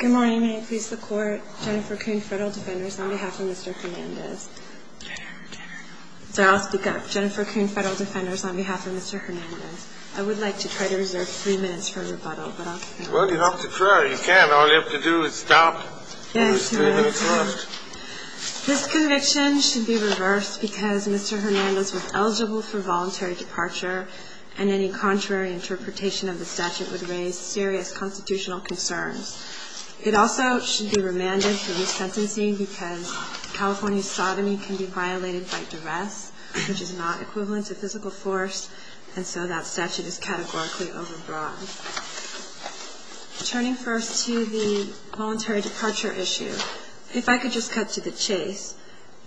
Good morning. May it please the Court. Jennifer Coon, Federal Defenders, on behalf of Mr. Hernandez. I'll speak up. Jennifer Coon, Federal Defenders, on behalf of Mr. Hernandez. I would like to try to reserve three minutes for rebuttal. Well, you have to try. You can't. All you have to do is stop. This conviction should be reversed because Mr. Hernandez was eligible for voluntary departure and any contrary interpretation of the statute would raise serious constitutional concerns. It also should be remanded for resentencing because California's sodomy can be violated by duress, which is not equivalent to physical force, and so that statute is categorically overbroad. Turning first to the voluntary departure issue, if I could just cut to the chase,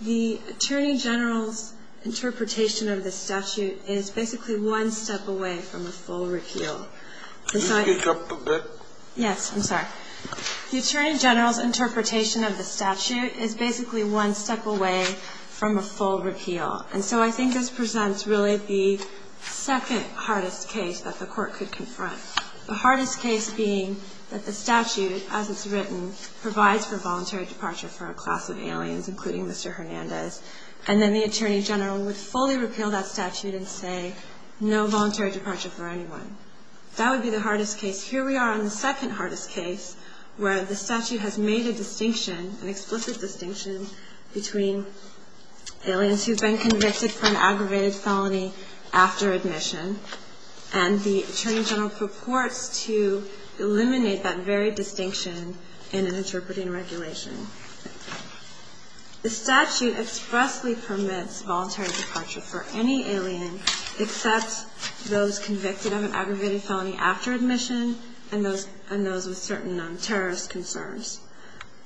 the Attorney General's interpretation of the statute is basically one step away from a full repeal. Could you speak up a bit? Yes, I'm sorry. The Attorney General's interpretation of the statute is basically one step away from a full repeal, and so I think this presents really the second-hardest case that the Court could confront, the hardest case being that the statute, as it's written, provides for voluntary departure for a class of aliens, including Mr. Hernandez, and then the Attorney General would fully repeal that statute and say no voluntary departure for anyone. That would be the hardest case. Here we are on the second-hardest case where the statute has made a distinction, an explicit distinction between aliens who've been convicted for an aggravated felony after admission, and the Attorney General purports to eliminate that very distinction in an interpreting regulation. The statute expressly permits voluntary departure for any alien except those convicted of an aggravated felony after admission and those with certain non-terrorist concerns.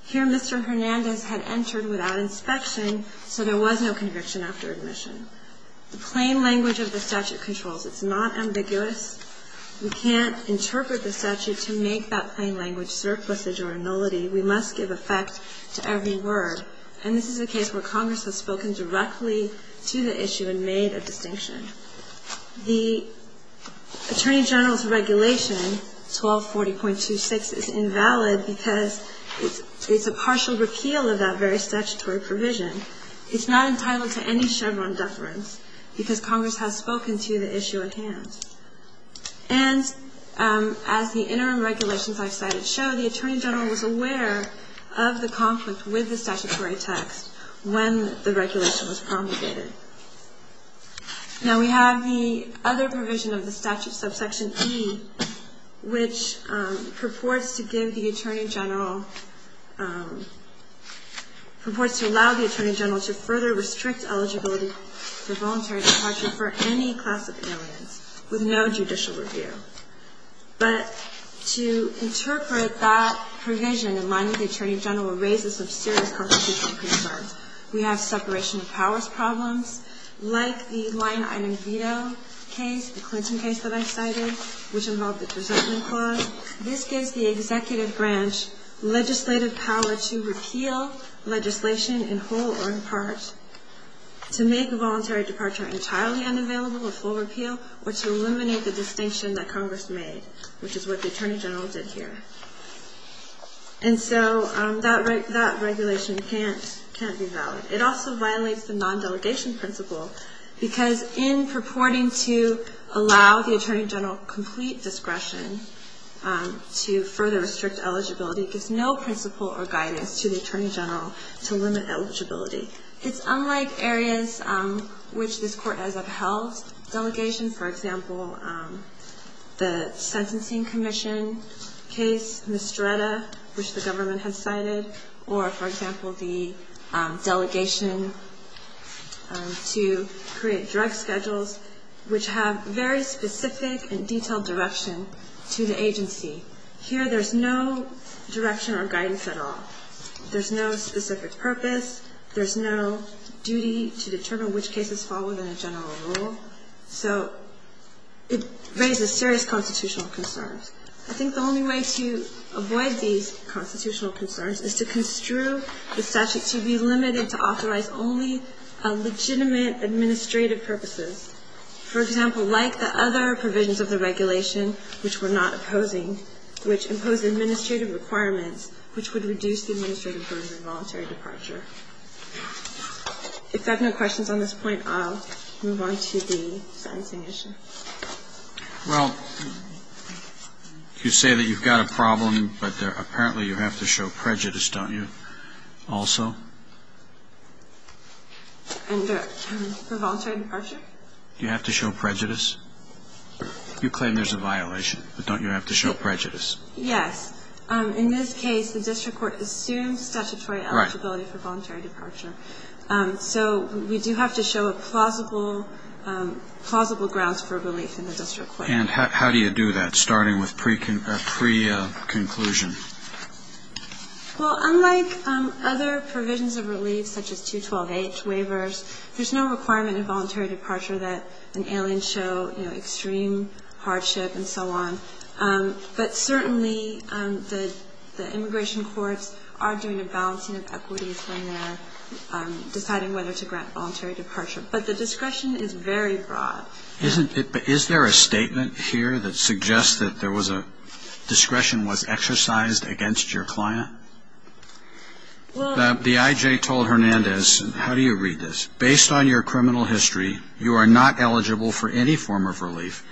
Here Mr. Hernandez had entered without inspection, so there was no conviction after admission. The plain language of the statute controls. It's not ambiguous. We can't interpret the statute to make that plain language surplusage or nullity. We must give effect to every word, and this is a case where Congress has spoken directly to the issue and made a distinction. The Attorney General's regulation, 1240.26, is invalid because it's a partial repeal of that very statutory provision. It's not entitled to any Chevron deference because Congress has spoken to the issue at hand. And as the interim regulations I've cited show, the Attorney General was aware of the conflict with the statutory text when the regulation was promulgated. Now we have the other provision of the statute, subsection E, which purports to give the Attorney General, purports to allow the Attorney General to further restrict eligibility for voluntary departure for any class of aliens with no judicial review. But to interpret that provision in line with the Attorney General raises some serious constitutional concerns. We have separation of powers problems, like the line item veto case, the Clinton case that I cited, which involved the presumption clause. This gives the executive branch legislative power to repeal legislation in whole or in part, to make a voluntary departure entirely unavailable with full repeal, or to eliminate the distinction that Congress made, which is what the Attorney General did here. And so that regulation can't be valid. It also violates the non-delegation principle because in purporting to allow the Attorney General complete discretion to further restrict eligibility, it gives no principle or guidance to the Attorney General to limit eligibility. It's unlike areas which this Court has upheld. Delegation, for example, the Sentencing Commission case, Mistretta, which the government has cited, or, for example, the delegation to create drug schedules, which have very specific and detailed direction to the agency. Here there's no direction or guidance at all. There's no specific purpose. There's no duty to determine which cases fall within a general rule. So it raises serious constitutional concerns. I think the only way to avoid these constitutional concerns is to construe the statute to be limited to authorize only legitimate administrative purposes. For example, like the other provisions of the regulation, which we're not opposing, which impose administrative requirements, which would reduce the administrative burden of voluntary departure. If that's no questions on this point, I'll move on to the sentencing issue. Well, you say that you've got a problem, but apparently you have to show prejudice, don't you, also? And the voluntary departure? You have to show prejudice. You claim there's a violation, but don't you have to show prejudice? Yes. In this case, the district court assumes statutory eligibility for voluntary departure. So we do have to show plausible grounds for relief in the district court. And how do you do that, starting with pre-conclusion? Well, unlike other provisions of relief, such as 212H waivers, there's no requirement in voluntary departure that an alien show, you know, extreme hardship and so on. But certainly the immigration courts are doing a balancing of equities when they're deciding whether to grant voluntary departure. But the discretion is very broad. Isn't it? Is there a statement here that suggests that there was a discretion was exercised against your client? The I.J. told Hernandez, how do you read this? Based on your criminal history, you are not eligible for any form of relief,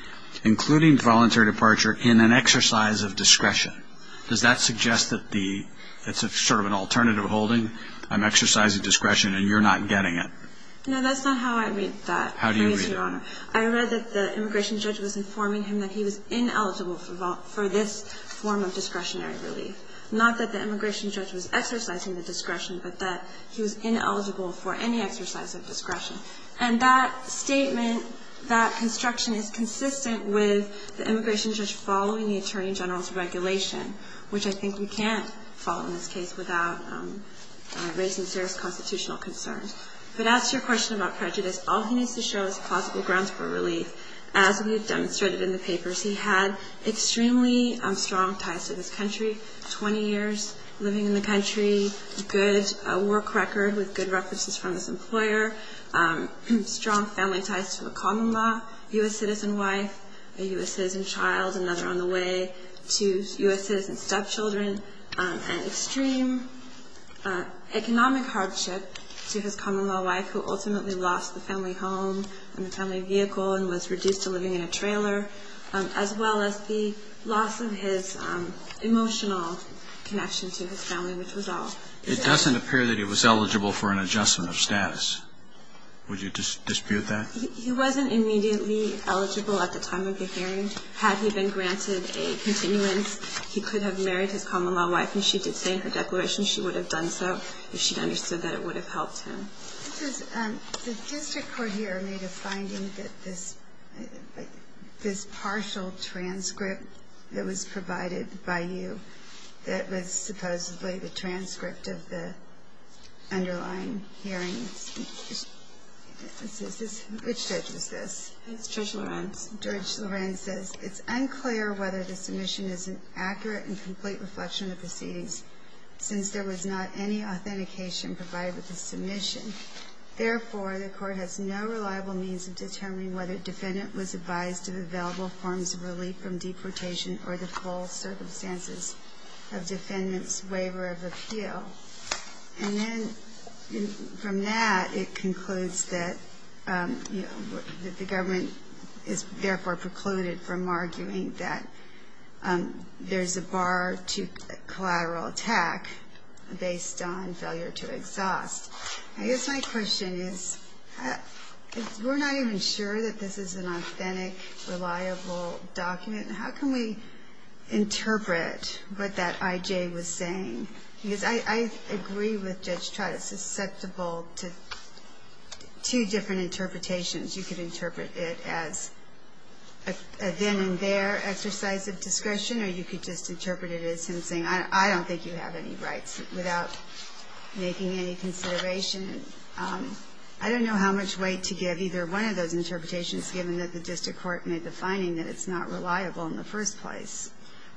including voluntary departure, in an exercise of discretion. Does that suggest that it's sort of an alternative holding? I'm exercising discretion and you're not getting it. No, that's not how I read that. How do you read it? I read that the immigration judge was informing him that he was ineligible for this form of discretionary relief. Not that the immigration judge was exercising the discretion, but that he was ineligible for any exercise of discretion. And that statement, that construction is consistent with the immigration judge following the attorney general's regulation, which I think we can't follow in this case without raising serious constitutional concerns. But as to your question about prejudice, all he needs to show is plausible grounds for relief. As we have demonstrated in the papers, he had extremely strong ties to this country, 20 years living in the country, a good work record with good references from his employer, strong family ties to a common law U.S. citizen wife, a U.S. citizen child, another on the way, two U.S. citizen stepchildren, and extreme economic hardship to his common law wife who ultimately lost the family home and the family vehicle and was reduced to living in a trailer, as well as the loss of his emotional connection to his family, which was all. It doesn't appear that he was eligible for an adjustment of status. Would you dispute that? He wasn't immediately eligible at the time of the hearing. Had he been granted a continuance, he could have married his common law wife, and she did say in her declaration she would have done so if she understood that it would have helped him. The district court here made a finding that this partial transcript that was provided by you, that was supposedly the transcript of the underlying hearing, which judge is this? It's Judge Lorenz. Judge Lorenz says, It's unclear whether the submission is an accurate and complete reflection of the proceedings since there was not any authentication provided with the submission. Therefore, the court has no reliable means of determining whether the defendant was advised of available forms of relief from deportation or the false circumstances of defendant's waiver of appeal. And then from that, it concludes that the government is therefore precluded from arguing that there's a bar to collateral attack based on failure to exhaust. I guess my question is, we're not even sure that this is an authentic, reliable document. How can we interpret what that I.J. was saying? Because I agree with Judge Trott. It's susceptible to two different interpretations. You could interpret it as a then and there exercise of discretion, or you could just interpret it as him saying, I don't think you have any rights without making any consideration. I don't know how much weight to give either one of those interpretations, given that the district court made the finding that it's not reliable in the first place.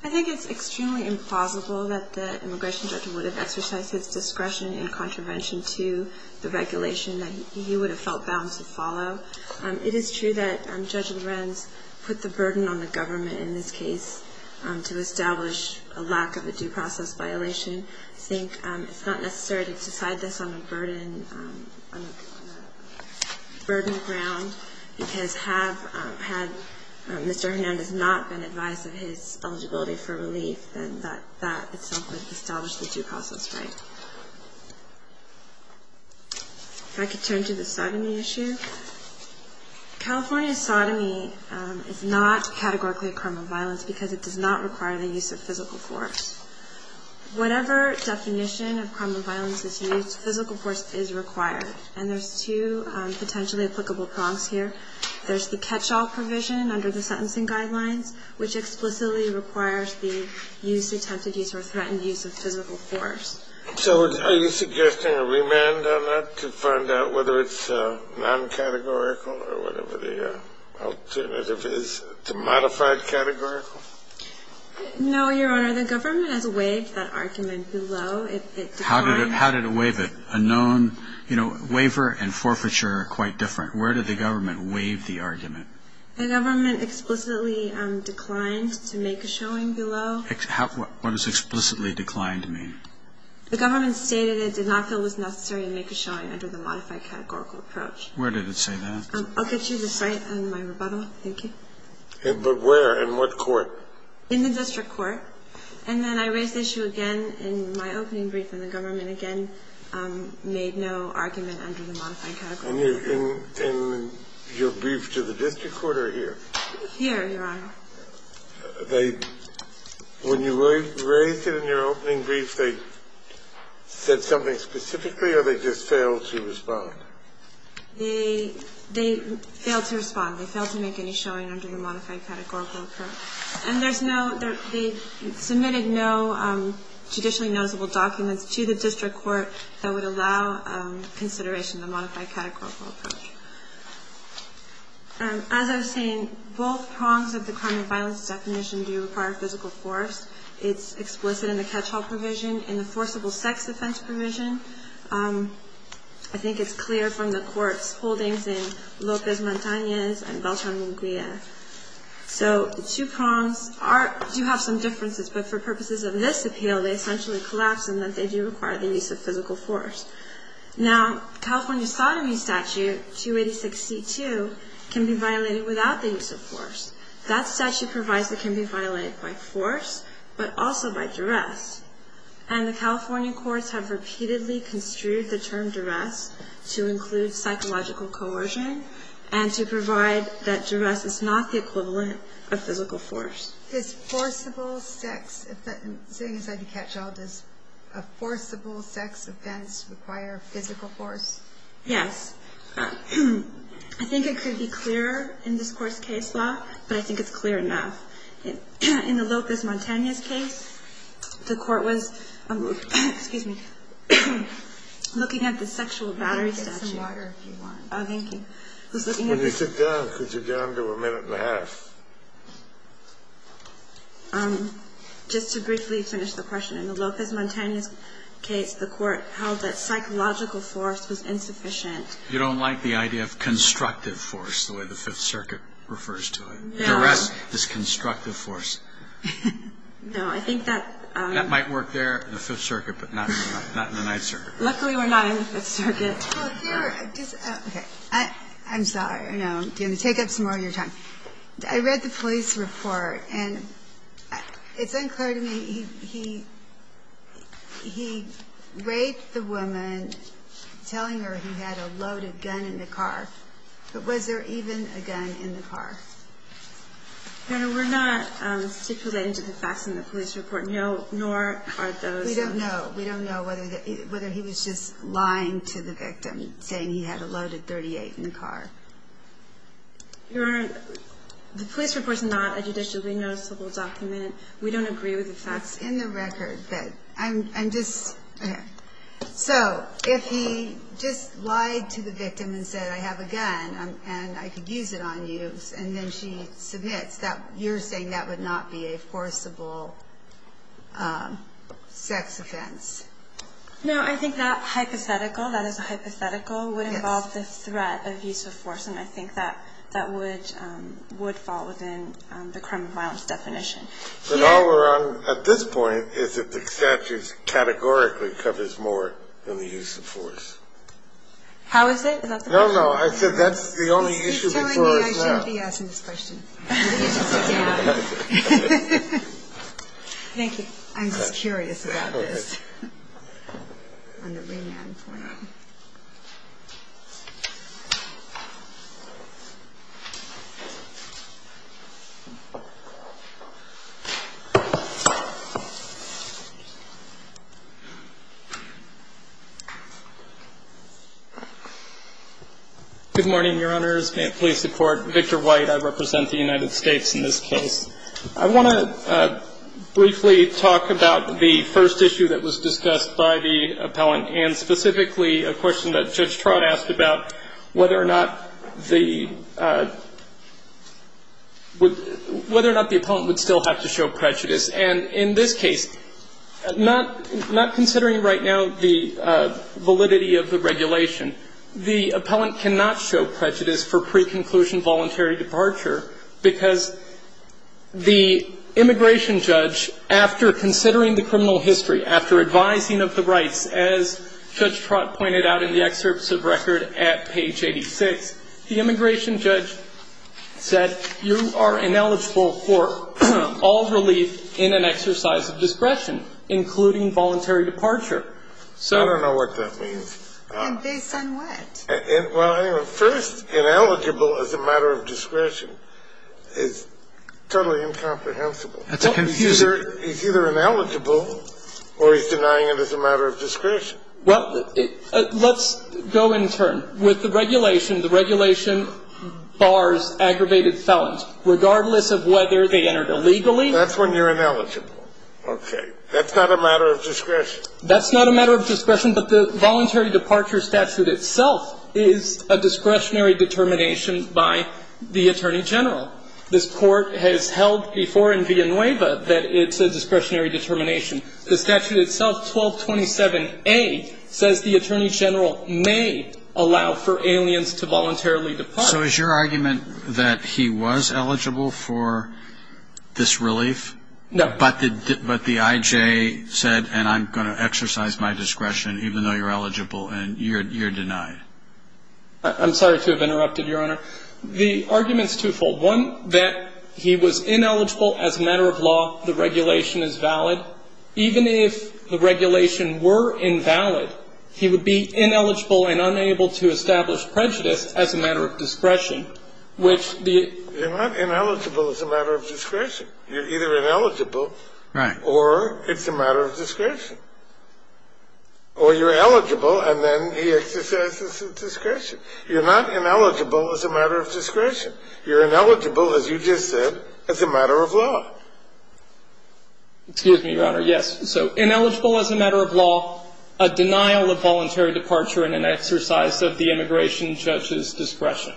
I think it's extremely implausible that the immigration judge would have exercised his discretion in contravention to the regulation that he would have felt bound to follow. It is true that Judge Lorenz put the burden on the government in this case to establish a lack of a due process violation. I think it's not necessary to decide this on a burden ground, because had Mr. Hernandez not been advised of his eligibility for relief, then that itself would establish the due process right. If I could turn to the sodomy issue. California's sodomy is not categorically a crime of violence because it does not require the use of physical force. Whatever definition of crime of violence is used, physical force is required. And there's two potentially applicable prongs here. There's the catch-all provision under the sentencing guidelines, which explicitly requires the use, attempted use, or threatened use of physical force. So are you suggesting a remand on that to find out whether it's non-categorical or whatever the alternative is to modified categorical? No, Your Honor. The government has waived that argument below. How did it waive it? A known waiver and forfeiture are quite different. Where did the government waive the argument? The government explicitly declined to make a showing below. What does explicitly declined mean? The government stated it did not feel it was necessary to make a showing under the modified categorical approach. Where did it say that? I'll get you the site of my rebuttal. Thank you. But where? In what court? In the district court. And then I raised the issue again in my opening brief, and the government again made no argument under the modified categorical approach. In your brief to the district court or here? Here, Your Honor. When you raised it in your opening brief, they said something specifically or they just failed to respond? They failed to respond. They failed to make any showing under the modified categorical approach. And they submitted no judicially noticeable documents to the district court that would allow consideration of the modified categorical approach. As I was saying, both prongs of the crime and violence definition do require physical force. It's explicit in the catch-all provision. In the forcible sex offense provision, I think it's clear from the court's holdings in Lopez Montanez and Beltran Munguia. So the two prongs do have some differences, but for purposes of this appeal, they essentially collapse in that they do require the use of physical force. Now, California sodomy statute 2862 can be violated without the use of force. That statute provides it can be violated by force but also by duress. And the California courts have repeatedly construed the term duress to include psychological coercion and to provide that duress is not the equivalent of physical force. Is forcible sex, sitting inside the catch-all, does a forcible sex offense require physical force? Yes. I think it could be clearer in this court's case law, but I think it's clear enough. In the Lopez Montanez case, the court was looking at the sexual battery statute. You can get some water if you want. Oh, thank you. When you sit down, could you go on to a minute and a half? Just to briefly finish the question. In the Lopez Montanez case, the court held that psychological force was insufficient. You don't like the idea of constructive force, the way the Fifth Circuit refers to it? No. Duress is constructive force. No, I think that... That might work there in the Fifth Circuit, but not in the Ninth Circuit. Luckily, we're not in the Fifth Circuit. I'm sorry. I'm going to take up some more of your time. I read the police report, and it's unclear to me. He raped the woman, telling her he had a loaded gun in the car. But was there even a gun in the car? No, we're not stipulating to the facts in the police report, nor are those... We don't know. We don't know whether he was just lying to the victim, saying he had a loaded .38 in the car. Your Honor, the police report is not a judicially noticeable document. We don't agree with the facts. It's in the record, but I'm just... So, if he just lied to the victim and said, I have a gun, and I could use it on you, And then she submits that you're saying that would not be a forcible sex offense. No, I think that hypothetical, that is a hypothetical, would involve the threat of use of force, and I think that would fall within the crime of violence definition. But all we're on at this point is that the statute categorically covers more than the use of force. How is it? Is that the question? No, no. I said that's the only issue before us now. He's telling me I shouldn't be asking this question. Let me just sit down. Thank you. I'm just curious about this. On the remand point. Good morning, Your Honors. May it please the Court. Victor White. I represent the United States in this case. I want to briefly talk about the first issue that was discussed by the appellant and specifically a question that Judge Trott asked about whether or not the, whether or not the appellant would still have to show prejudice. And in this case, not considering right now the validity of the regulation, the appellant cannot show prejudice for preconclusion voluntary departure because the immigration judge, after considering the criminal history, after advising of the rights, as Judge Trott pointed out in the excerpts of record at page 86, the immigration judge said, you are ineligible for all relief in an exercise of discretion, including voluntary departure. I don't know what that means. And based on what? Well, anyway, first, ineligible as a matter of discretion is totally incomprehensible. That's confusing. He's either ineligible or he's denying it as a matter of discretion. Well, let's go in turn. With the regulation, the regulation bars aggravated felons, regardless of whether they entered illegally. That's when you're ineligible. Okay. That's not a matter of discretion. That's not a matter of discretion, but the voluntary departure statute itself is a discretionary determination by the Attorney General. This Court has held before in Villanueva that it's a discretionary determination. The statute itself, 1227A, says the Attorney General may allow for aliens to voluntarily depart. So is your argument that he was eligible for this relief? No. But the I.J. said, and I'm going to exercise my discretion, even though you're eligible and you're denied. I'm sorry to have interrupted, Your Honor. The argument's twofold. One, that he was ineligible as a matter of law. The regulation is valid. Even if the regulation were invalid, he would be ineligible and unable to establish prejudice as a matter of discretion, which the ---- You're not ineligible as a matter of discretion. You're either ineligible or it's a matter of discretion. Or you're eligible and then he exercises his discretion. You're not ineligible as a matter of discretion. You're ineligible, as you just said, as a matter of law. Excuse me, Your Honor. Yes. So ineligible as a matter of law, a denial of voluntary departure and an exercise of the immigration judge's discretion.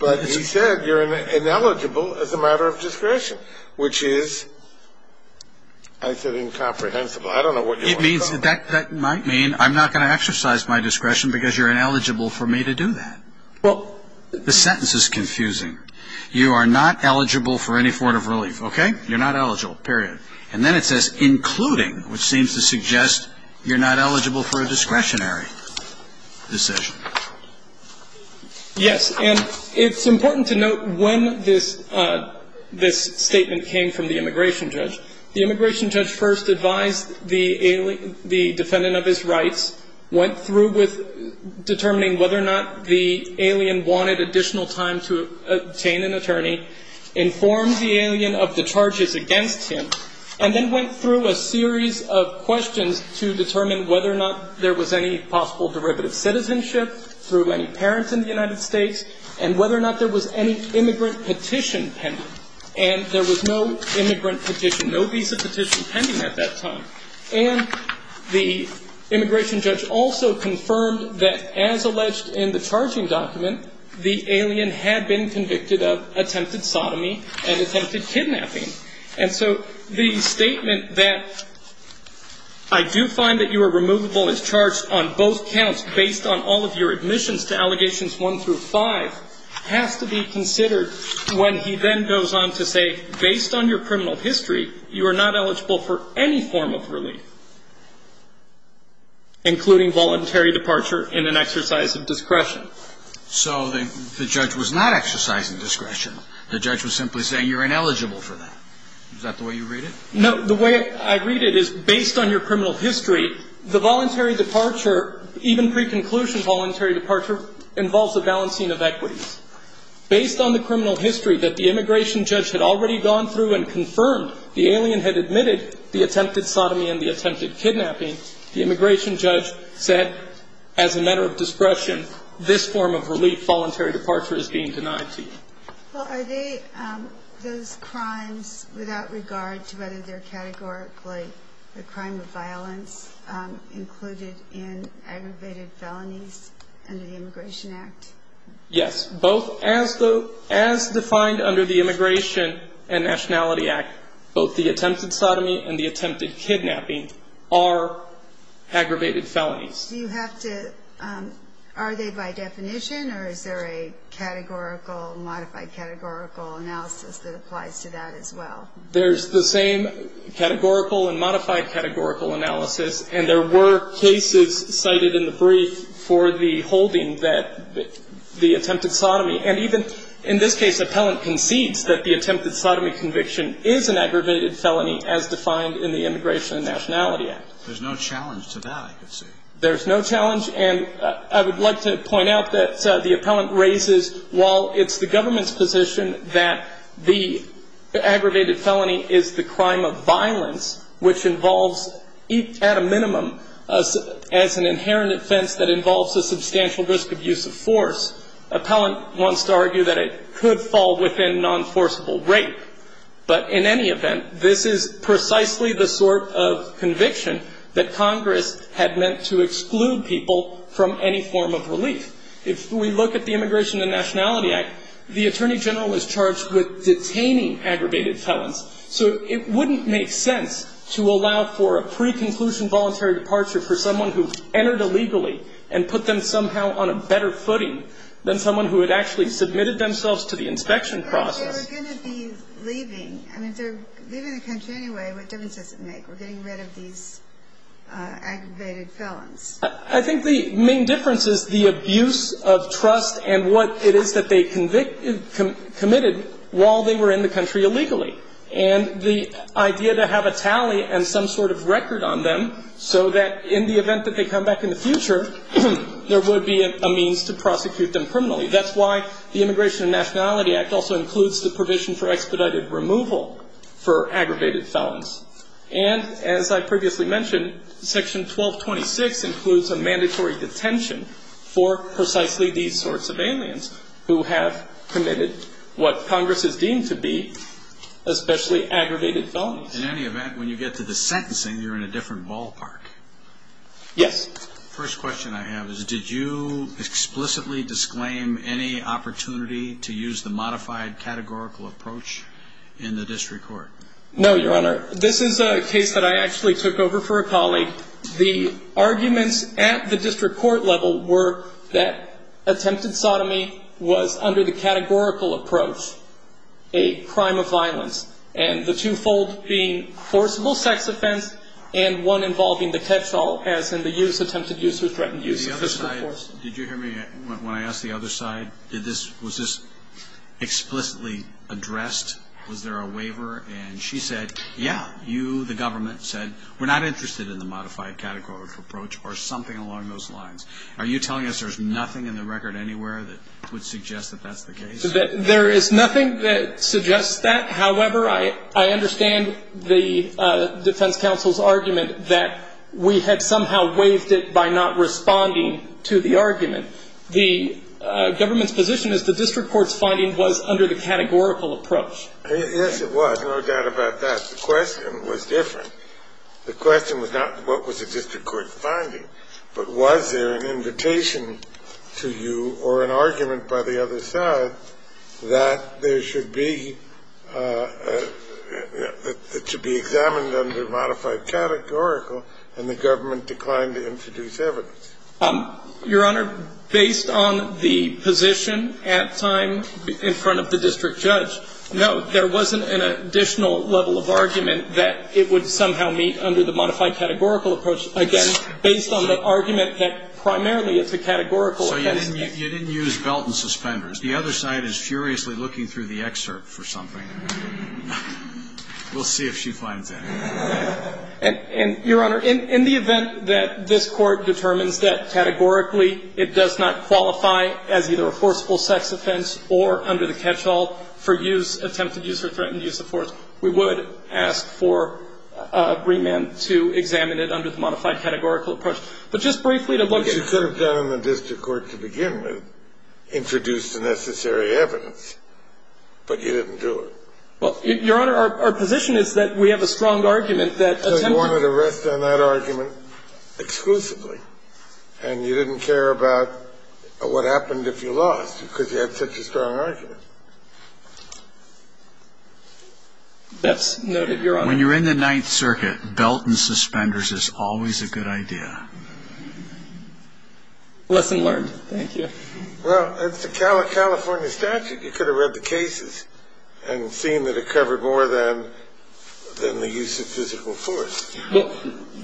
But he said you're ineligible as a matter of discretion. Which is, I said incomprehensible. I don't know what you want to tell me. That might mean I'm not going to exercise my discretion because you're ineligible for me to do that. Well, the sentence is confusing. You are not eligible for any form of relief. Okay? You're not eligible, period. And then it says including, which seems to suggest you're not eligible for a discretionary decision. Yes. And it's important to note when this statement came from the immigration judge. The immigration judge first advised the defendant of his rights, went through with determining whether or not the alien wanted additional time to obtain an attorney, informed the alien of the charges against him, and then went through a series of questions to determine whether or not there was any possible derivative citizenship through any parents in the United States, and whether or not there was any immigrant petition pending. And there was no immigrant petition, no visa petition pending at that time. And the immigration judge also confirmed that as alleged in the charging document, the alien had been convicted of attempted sodomy and attempted kidnapping. And so the statement that I do find that you are removable as charged on both counts based on all of your admissions to allegations one through five has to be considered when he then goes on to say based on your criminal history, you are not eligible for any form of relief, including voluntary departure in an exercise of discretion. So the judge was not exercising discretion. The judge was simply saying you're ineligible for that. Is that the way you read it? No, the way I read it is based on your criminal history, the voluntary departure, even pre-conclusion voluntary departure, involves a balancing of equities. Based on the criminal history that the immigration judge had already gone through and confirmed the alien had admitted the attempted sodomy and the attempted kidnapping, the immigration judge said as a matter of discretion, this form of relief voluntary departure is being denied to you. Well, are they those crimes without regard to whether they're categorically a crime of violence included in aggravated felonies under the Immigration Act? Yes. Both as defined under the Immigration and Nationality Act, both the attempted sodomy and the attempted kidnapping are aggravated felonies. Do you have to – are they by definition or is there a categorical, modified categorical analysis that applies to that as well? There's the same categorical and modified categorical analysis, and there were cases cited in the brief for the holding that the attempted sodomy and even in this case, appellant concedes that the attempted sodomy conviction is an aggravated felony as defined in the Immigration and Nationality Act. There's no challenge to that, I could see. There's no challenge. And I would like to point out that the appellant raises, while it's the government's position that the aggravated felony is the crime of violence, which involves at a minimum as an inherent offense that involves a substantial risk of use of force, appellant wants to argue that it could fall within non-forceable rape. But in any event, this is precisely the sort of conviction that Congress had meant to exclude people from any form of relief. If we look at the Immigration and Nationality Act, the Attorney General is charged with detaining aggravated felons, so it wouldn't make sense to allow for a pre-conclusion voluntary departure for someone who entered illegally and put them somehow on a better footing than someone who had actually submitted themselves to the inspection process. If they were going to be leaving, I mean if they're leaving the country anyway, what difference does it make? We're getting rid of these aggravated felons. I think the main difference is the abuse of trust and what it is that they committed while they were in the country illegally. And the idea to have a tally and some sort of record on them so that in the event that they come back in the future, there would be a means to prosecute them criminally. That's why the Immigration and Nationality Act also includes the provision for expedited removal for aggravated felons. And as I previously mentioned, Section 1226 includes a mandatory detention for precisely these sorts of aliens who have committed what Congress has deemed to be especially aggravated felons. In any event, when you get to the sentencing, you're in a different ballpark. Yes. The first question I have is did you explicitly disclaim any opportunity to use the modified categorical approach in the district court? No, Your Honor. This is a case that I actually took over for a colleague. The arguments at the district court level were that attempted sodomy was under the categorical approach a crime of violence, and the twofold being forcible sex offense and one involving the catch-all as in the use, attempted use or threatened use. The other side, did you hear me when I asked the other side, was this explicitly addressed? Was there a waiver? And she said, yeah. You, the government, said we're not interested in the modified categorical approach or something along those lines. Are you telling us there's nothing in the record anywhere that would suggest that that's the case? There is nothing that suggests that. However, I understand the defense counsel's argument that we had somehow waived it by not responding to the argument. The government's position is the district court's finding was under the categorical approach. Yes, it was, no doubt about that. The question was different. The question was not what was the district court finding, but was there an invitation to you or an argument by the other side that there should be to be examined under modified categorical and the government declined to introduce evidence? Your Honor, based on the position at time in front of the district judge, no, there wasn't an additional level of argument that it would somehow meet under the modified categorical approach. Again, based on the argument that primarily it's a categorical. So you didn't use belt and suspenders. The other side is furiously looking through the excerpt for something. We'll see if she finds anything. And, Your Honor, in the event that this Court determines that categorically it does not qualify as either a forcible sex offense or under the catch-all for use, attempted use or threatened use of force, we would ask for Greenman to examine it under the modified categorical approach. But just briefly to look at it. The case you could have done in the district court to begin with introduced the necessary evidence, but you didn't do it. Well, Your Honor, our position is that we have a strong argument that attempted You wanted to rest on that argument exclusively, and you didn't care about what happened if you lost because you had such a strong argument. That's noted, Your Honor. When you're in the Ninth Circuit, belt and suspenders is always a good idea. Lesson learned. Thank you. Well, that's the California statute. You could have read the cases and seen that it covered more than the use of physical force.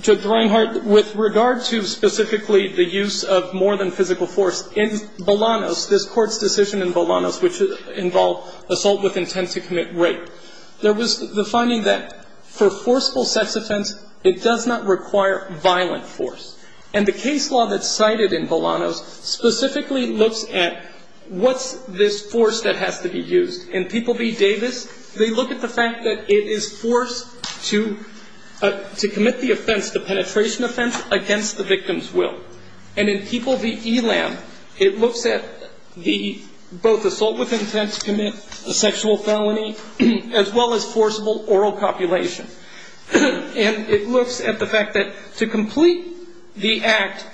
Judge Reinhart, with regard to specifically the use of more than physical force, in Bolanos, this Court's decision in Bolanos, which involved assault with intent to commit rape. There was the finding that for forceful sex offense, it does not require violent force. And the case law that's cited in Bolanos specifically looks at what's this force that has to be used. In People v. Davis, they look at the fact that it is forced to commit the offense, the penetration offense, against the victim's will. And in People v. Elam, it looks at the both assault with intent to commit a sexual felony, as well as forcible oral copulation. And it looks at the fact that to complete the act,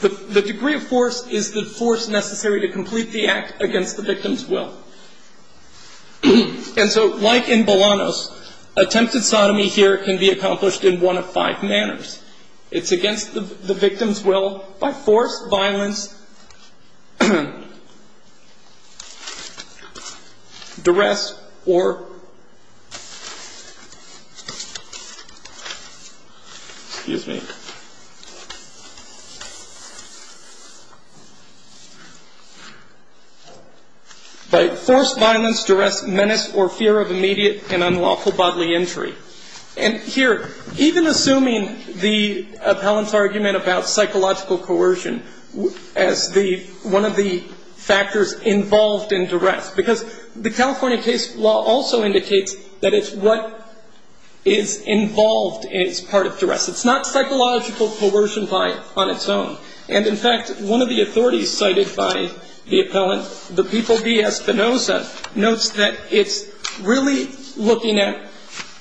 the degree of force is the force necessary to complete the act against the victim's will. And so, like in Bolanos, attempted sodomy here can be accomplished in one of five manners. It's against the victim's will by force, violence, duress, or, excuse me, by force, violence, duress, menace, or fear of immediate and unlawful bodily entry. And here, even assuming the appellant's argument about psychological coercion as one of the factors involved in duress, because the California case law also indicates that it's what is involved as part of duress. It's not psychological coercion on its own. And, in fact, one of the authorities cited by the appellant, the People v. Espinoza, notes that it's really looking at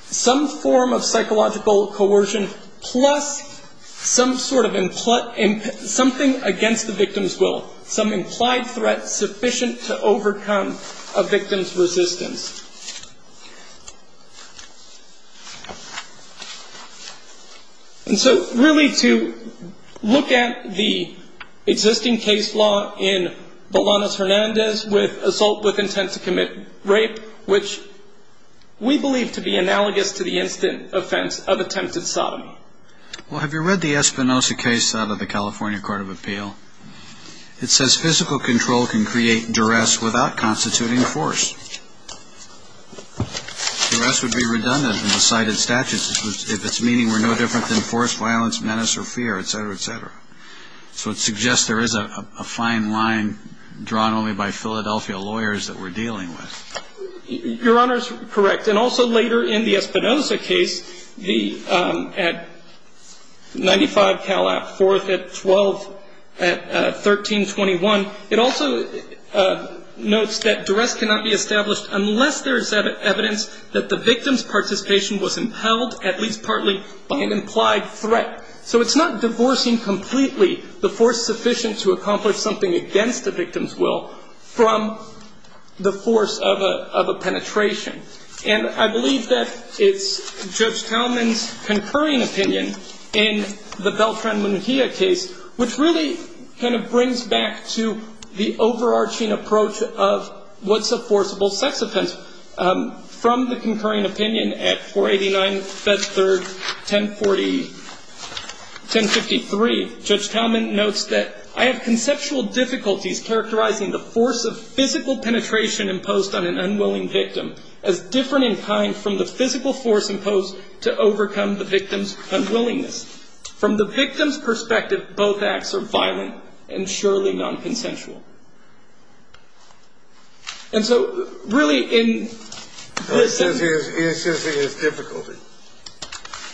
some form of psychological coercion plus some sort of something against the victim's will, some implied threat sufficient to overcome a victim's resistance. And so, really, to look at the existing case law in Bolanos-Hernandez with intent to commit rape, which we believe to be analogous to the instant offense of attempted sodomy. Well, have you read the Espinoza case out of the California Court of Appeal? It says physical control can create duress without constituting force. Duress would be redundant in the cited statutes if its meaning were no different than force, violence, menace, or fear, et cetera, et cetera. So it suggests there is a fine line drawn only by Philadelphia lawyers that we're dealing with. Your Honor is correct. And also later in the Espinoza case, the at 95 Cal App, 4th at 12, at 1321, it also notes that duress cannot be established unless there is evidence that the victim's participation was impelled, at least partly, by an implied threat. So it's not divorcing completely the force sufficient to accomplish something against the victim's will from the force of a penetration. And I believe that it's Judge Talman's concurring opinion in the Beltran-Monjia case, which really kind of brings back to the overarching approach of what's a forcible sex offense. From the concurring opinion at 489, 5th, 3rd, 1043, Judge Talman notes that I have conceptual difficulties characterizing the force of physical penetration imposed on an unwilling victim as different in kind from the physical force imposed to overcome the victim's unwillingness. From the victim's perspective, both acts are violent and surely nonconsensual. And so really in this sentence. It says he has difficulty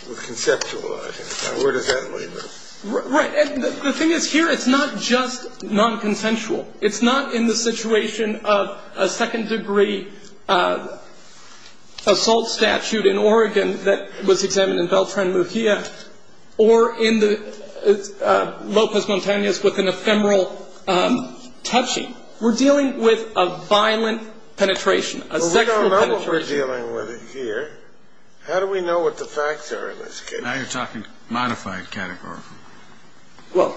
with conceptualizing. Now, where does that leave us? Right. And the thing is, here it's not just nonconsensual. It's not in the situation of a second-degree assault statute in Oregon that was examined in Beltran-Monjia or in the Lopez Montanez with an ephemeral touching. We're dealing with a violent penetration, a sexual penetration. Well, we don't know what we're dealing with here. How do we know what the facts are in this case? Now you're talking modified categorical. Well,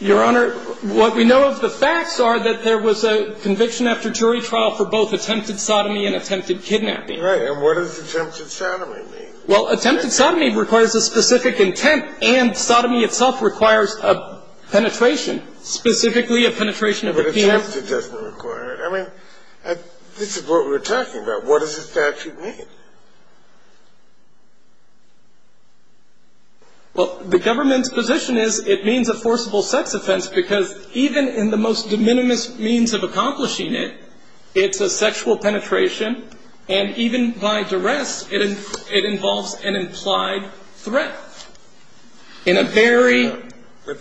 Your Honor, what we know of the facts are that there was a conviction after jury trial for both attempted sodomy and attempted kidnapping. Right. And what does attempted sodomy mean? Well, attempted sodomy requires a specific intent, and sodomy itself requires a penetration, specifically a penetration of the penis. But attempted doesn't require it. I mean, this is what we're talking about. What does the statute mean? Well, the government's position is it means a forcible sex offense because even in the most de minimis means of accomplishing it, it's a sexual penetration, and even by duress, it involves an implied threat. But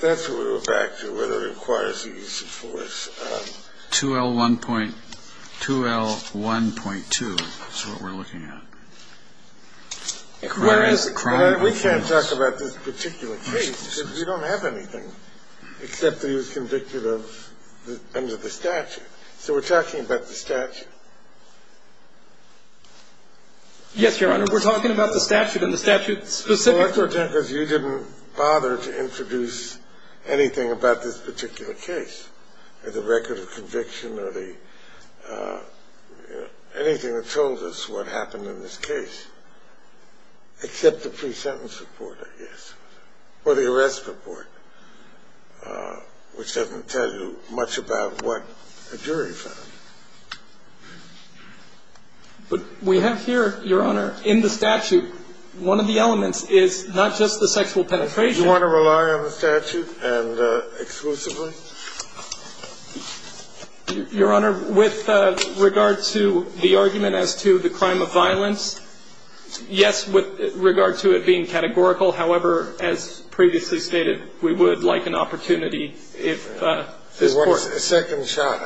that's what we're back to, whether it requires the use of force. 2L1.2 is what we're looking at. Whereas the crime of violence. We can't talk about this particular case because we don't have anything except that he was convicted under the statute. So we're talking about the statute. Yes, Your Honor, we're talking about the statute and the statute specifically because you didn't bother to introduce anything about this particular case, the record of conviction or anything that told us what happened in this case, except the pre-sentence report, I guess, or the arrest report, which doesn't tell you much about what a jury found. But we have here, Your Honor, in the statute, one of the elements is not just the sexual penetration. You want to rely on the statute exclusively? Your Honor, with regard to the argument as to the crime of violence, yes, with regard to it being categorical. However, as previously stated, we would like an opportunity if this court. Second shot.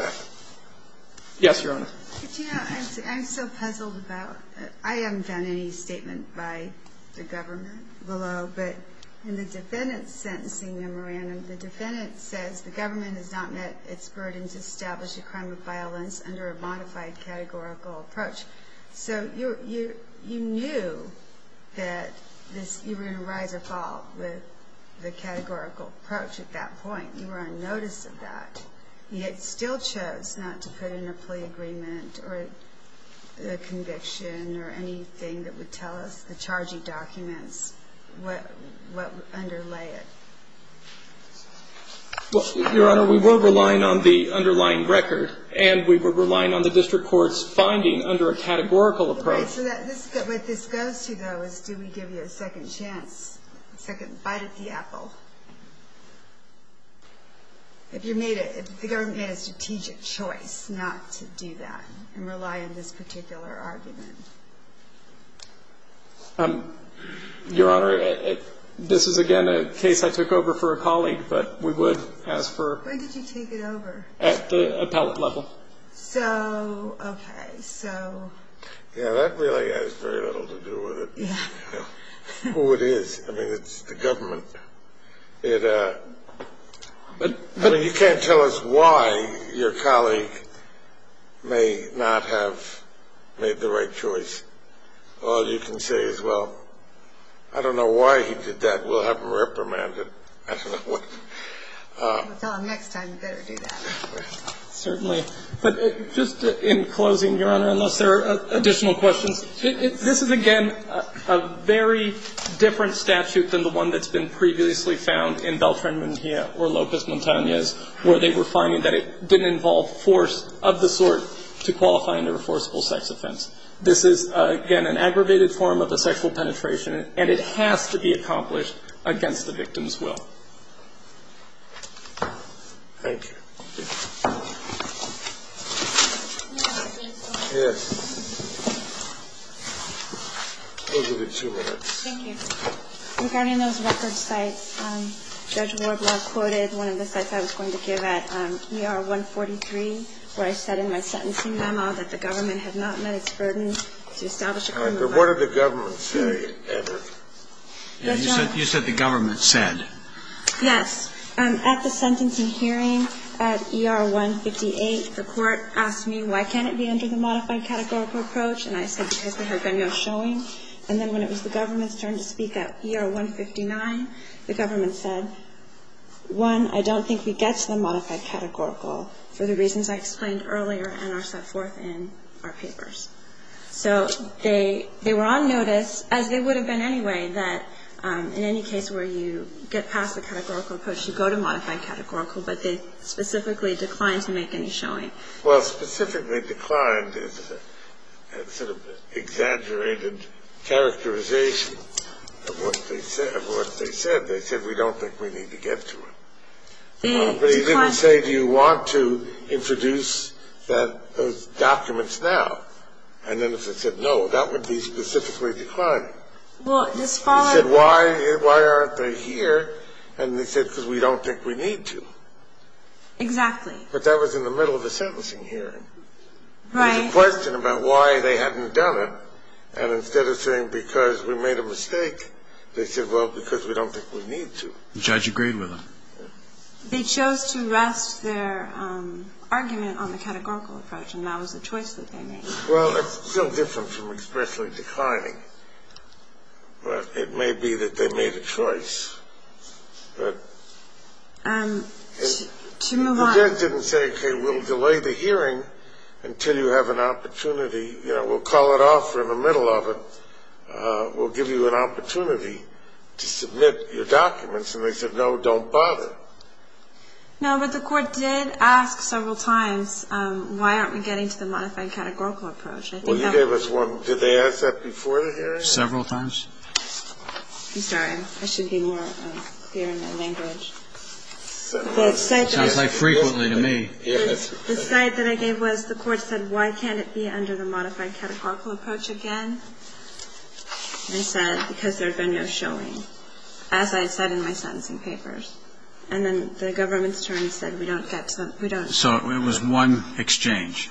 Yes, Your Honor. I'm so puzzled about it. I haven't found any statement by the government below. But in the defendant's sentencing memorandum, the defendant says the government has not met its burden to establish a crime of violence under a modified categorical approach. So you knew that you were going to rise or fall with the categorical approach at that point. You were on notice of that, yet still chose not to put in a plea agreement or a conviction or anything that would tell us the charging documents, what would underlay it. Well, Your Honor, we were relying on the underlying record, and we were relying on the district court's finding under a categorical approach. So what this goes to, though, is do we give you a second chance, a second bite at the apple? If the government made a strategic choice not to do that and rely on this particular argument. Your Honor, this is, again, a case I took over for a colleague, but we would ask for. When did you take it over? At the appellate level. So, okay, so. Yeah, that really has very little to do with it. Yeah. I don't know who it is. I mean, it's the government. I mean, you can't tell us why your colleague may not have made the right choice. All you can say is, well, I don't know why he did that. We'll have him reprimanded. I don't know what. Well, next time you better do that. Certainly. But just in closing, Your Honor, unless there are additional questions, this is, again, a very different statute than the one that's been previously found in Beltran-Muñiz or Lopez-Montanez, where they were finding that it didn't involve force of the sort to qualify under a forcible sex offense. This is, again, an aggravated form of a sexual penetration, and it has to be accomplished against the victim's will. Thank you. Yes. Those will be two minutes. Thank you. Regarding those record sites, Judge Ward last quoted one of the sites I was going to give at ER 143, where I said in my sentencing memo that the government had not met its burden to establish a criminal record. All right. But what did the government say, Everett? Yes, Your Honor. You said the government said. Yes. At the sentencing hearing at ER 158, the court asked me, why can't it be under the modified categorical approach? And I said because there had been no showing. And then when it was the government's turn to speak at ER 159, the government said, one, I don't think we get to the modified categorical for the reasons I explained earlier and are set forth in our papers. So they were on notice, as they would have been anyway, that in any case where you get past the categorical approach, you go to modified categorical, but they specifically declined to make any showing. Well, specifically declined is sort of an exaggerated characterization of what they said. They said, we don't think we need to get to it. But he didn't say, do you want to introduce those documents now? And then if they said no, that would be specifically declined. He said, why aren't they here? And they said, because we don't think we need to. Exactly. But that was in the middle of a sentencing hearing. There was a question about why they hadn't done it. And instead of saying because we made a mistake, they said, well, because we don't think we need to. The judge agreed with them. They chose to rest their argument on the categorical approach, and that was the choice that they made. Well, it's still different from expressly declining. But it may be that they made a choice. To move on. The judge didn't say, okay, we'll delay the hearing until you have an opportunity. You know, we'll call it off in the middle of it. We'll give you an opportunity to submit your documents. And they said, no, don't bother. No, but the court did ask several times, why aren't we getting to the modified categorical approach? Well, you gave us one. Did they ask that before the hearing? Several times. I'm sorry. I should be more clear in my language. Sounds like frequently to me. The side that I gave was the court said, why can't it be under the modified categorical approach again? And I said, because there had been no showing, as I had said in my sentencing papers. And then the government's attorney said, we don't get to the ‑‑ So it was one exchange,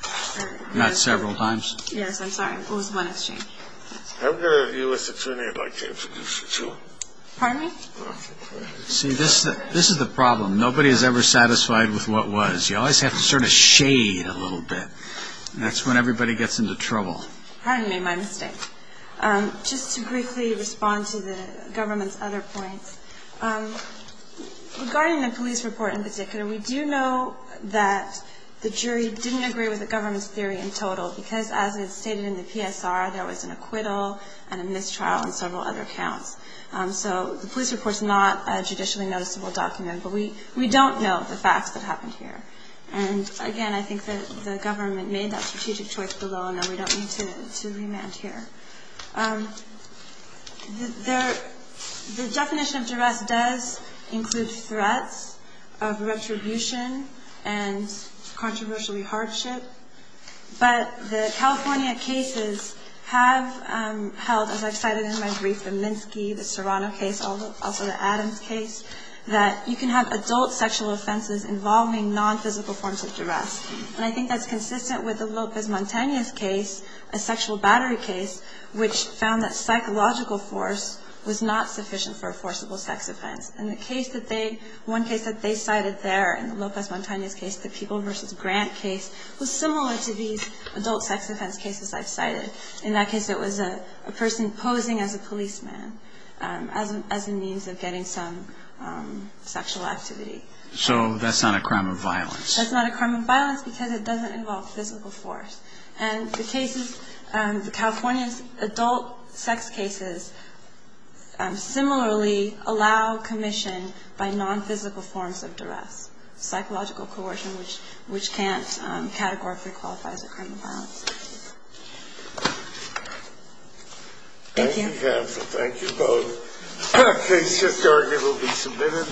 not several times? Yes, I'm sorry. It was one exchange. I'm going to view this attorney by case. Pardon me? See, this is the problem. Nobody is ever satisfied with what was. You always have to sort of shade a little bit. And that's when everybody gets into trouble. Pardon me, my mistake. Just to briefly respond to the government's other points, regarding the police report in particular, we do know that the jury didn't agree with the government's theory in total, because as it stated in the PSR, there was an acquittal and a mistrial and several other counts. So the police report is not a judicially noticeable document. But we don't know the facts that happened here. And, again, I think that the government made that strategic choice, although I know we don't need to remand here. The definition of duress does include threats of retribution and controversially hardship. But the California cases have held, as I've cited in my brief, the Minsky, the Serrano case, also the Adams case, that you can have adult sexual offenses involving nonphysical forms of duress. And I think that's consistent with the Lopez-Montanez case, a sexual battery case, which found that psychological force was not sufficient for a forcible sex offense. And the case that they, one case that they cited there in the Lopez-Montanez case, the People v. Grant case, was similar to these adult sex offense cases I've cited. In that case, it was a person posing as a policeman as a means of getting some sexual activity. So that's not a crime of violence? That's not a crime of violence because it doesn't involve physical force. And the cases, the California adult sex cases, similarly allow commission by nonphysical forms of duress, psychological coercion, which can't categorically qualify as a crime of violence. Thank you. Thank you, Pam. Thank you both. Case history will be submitted.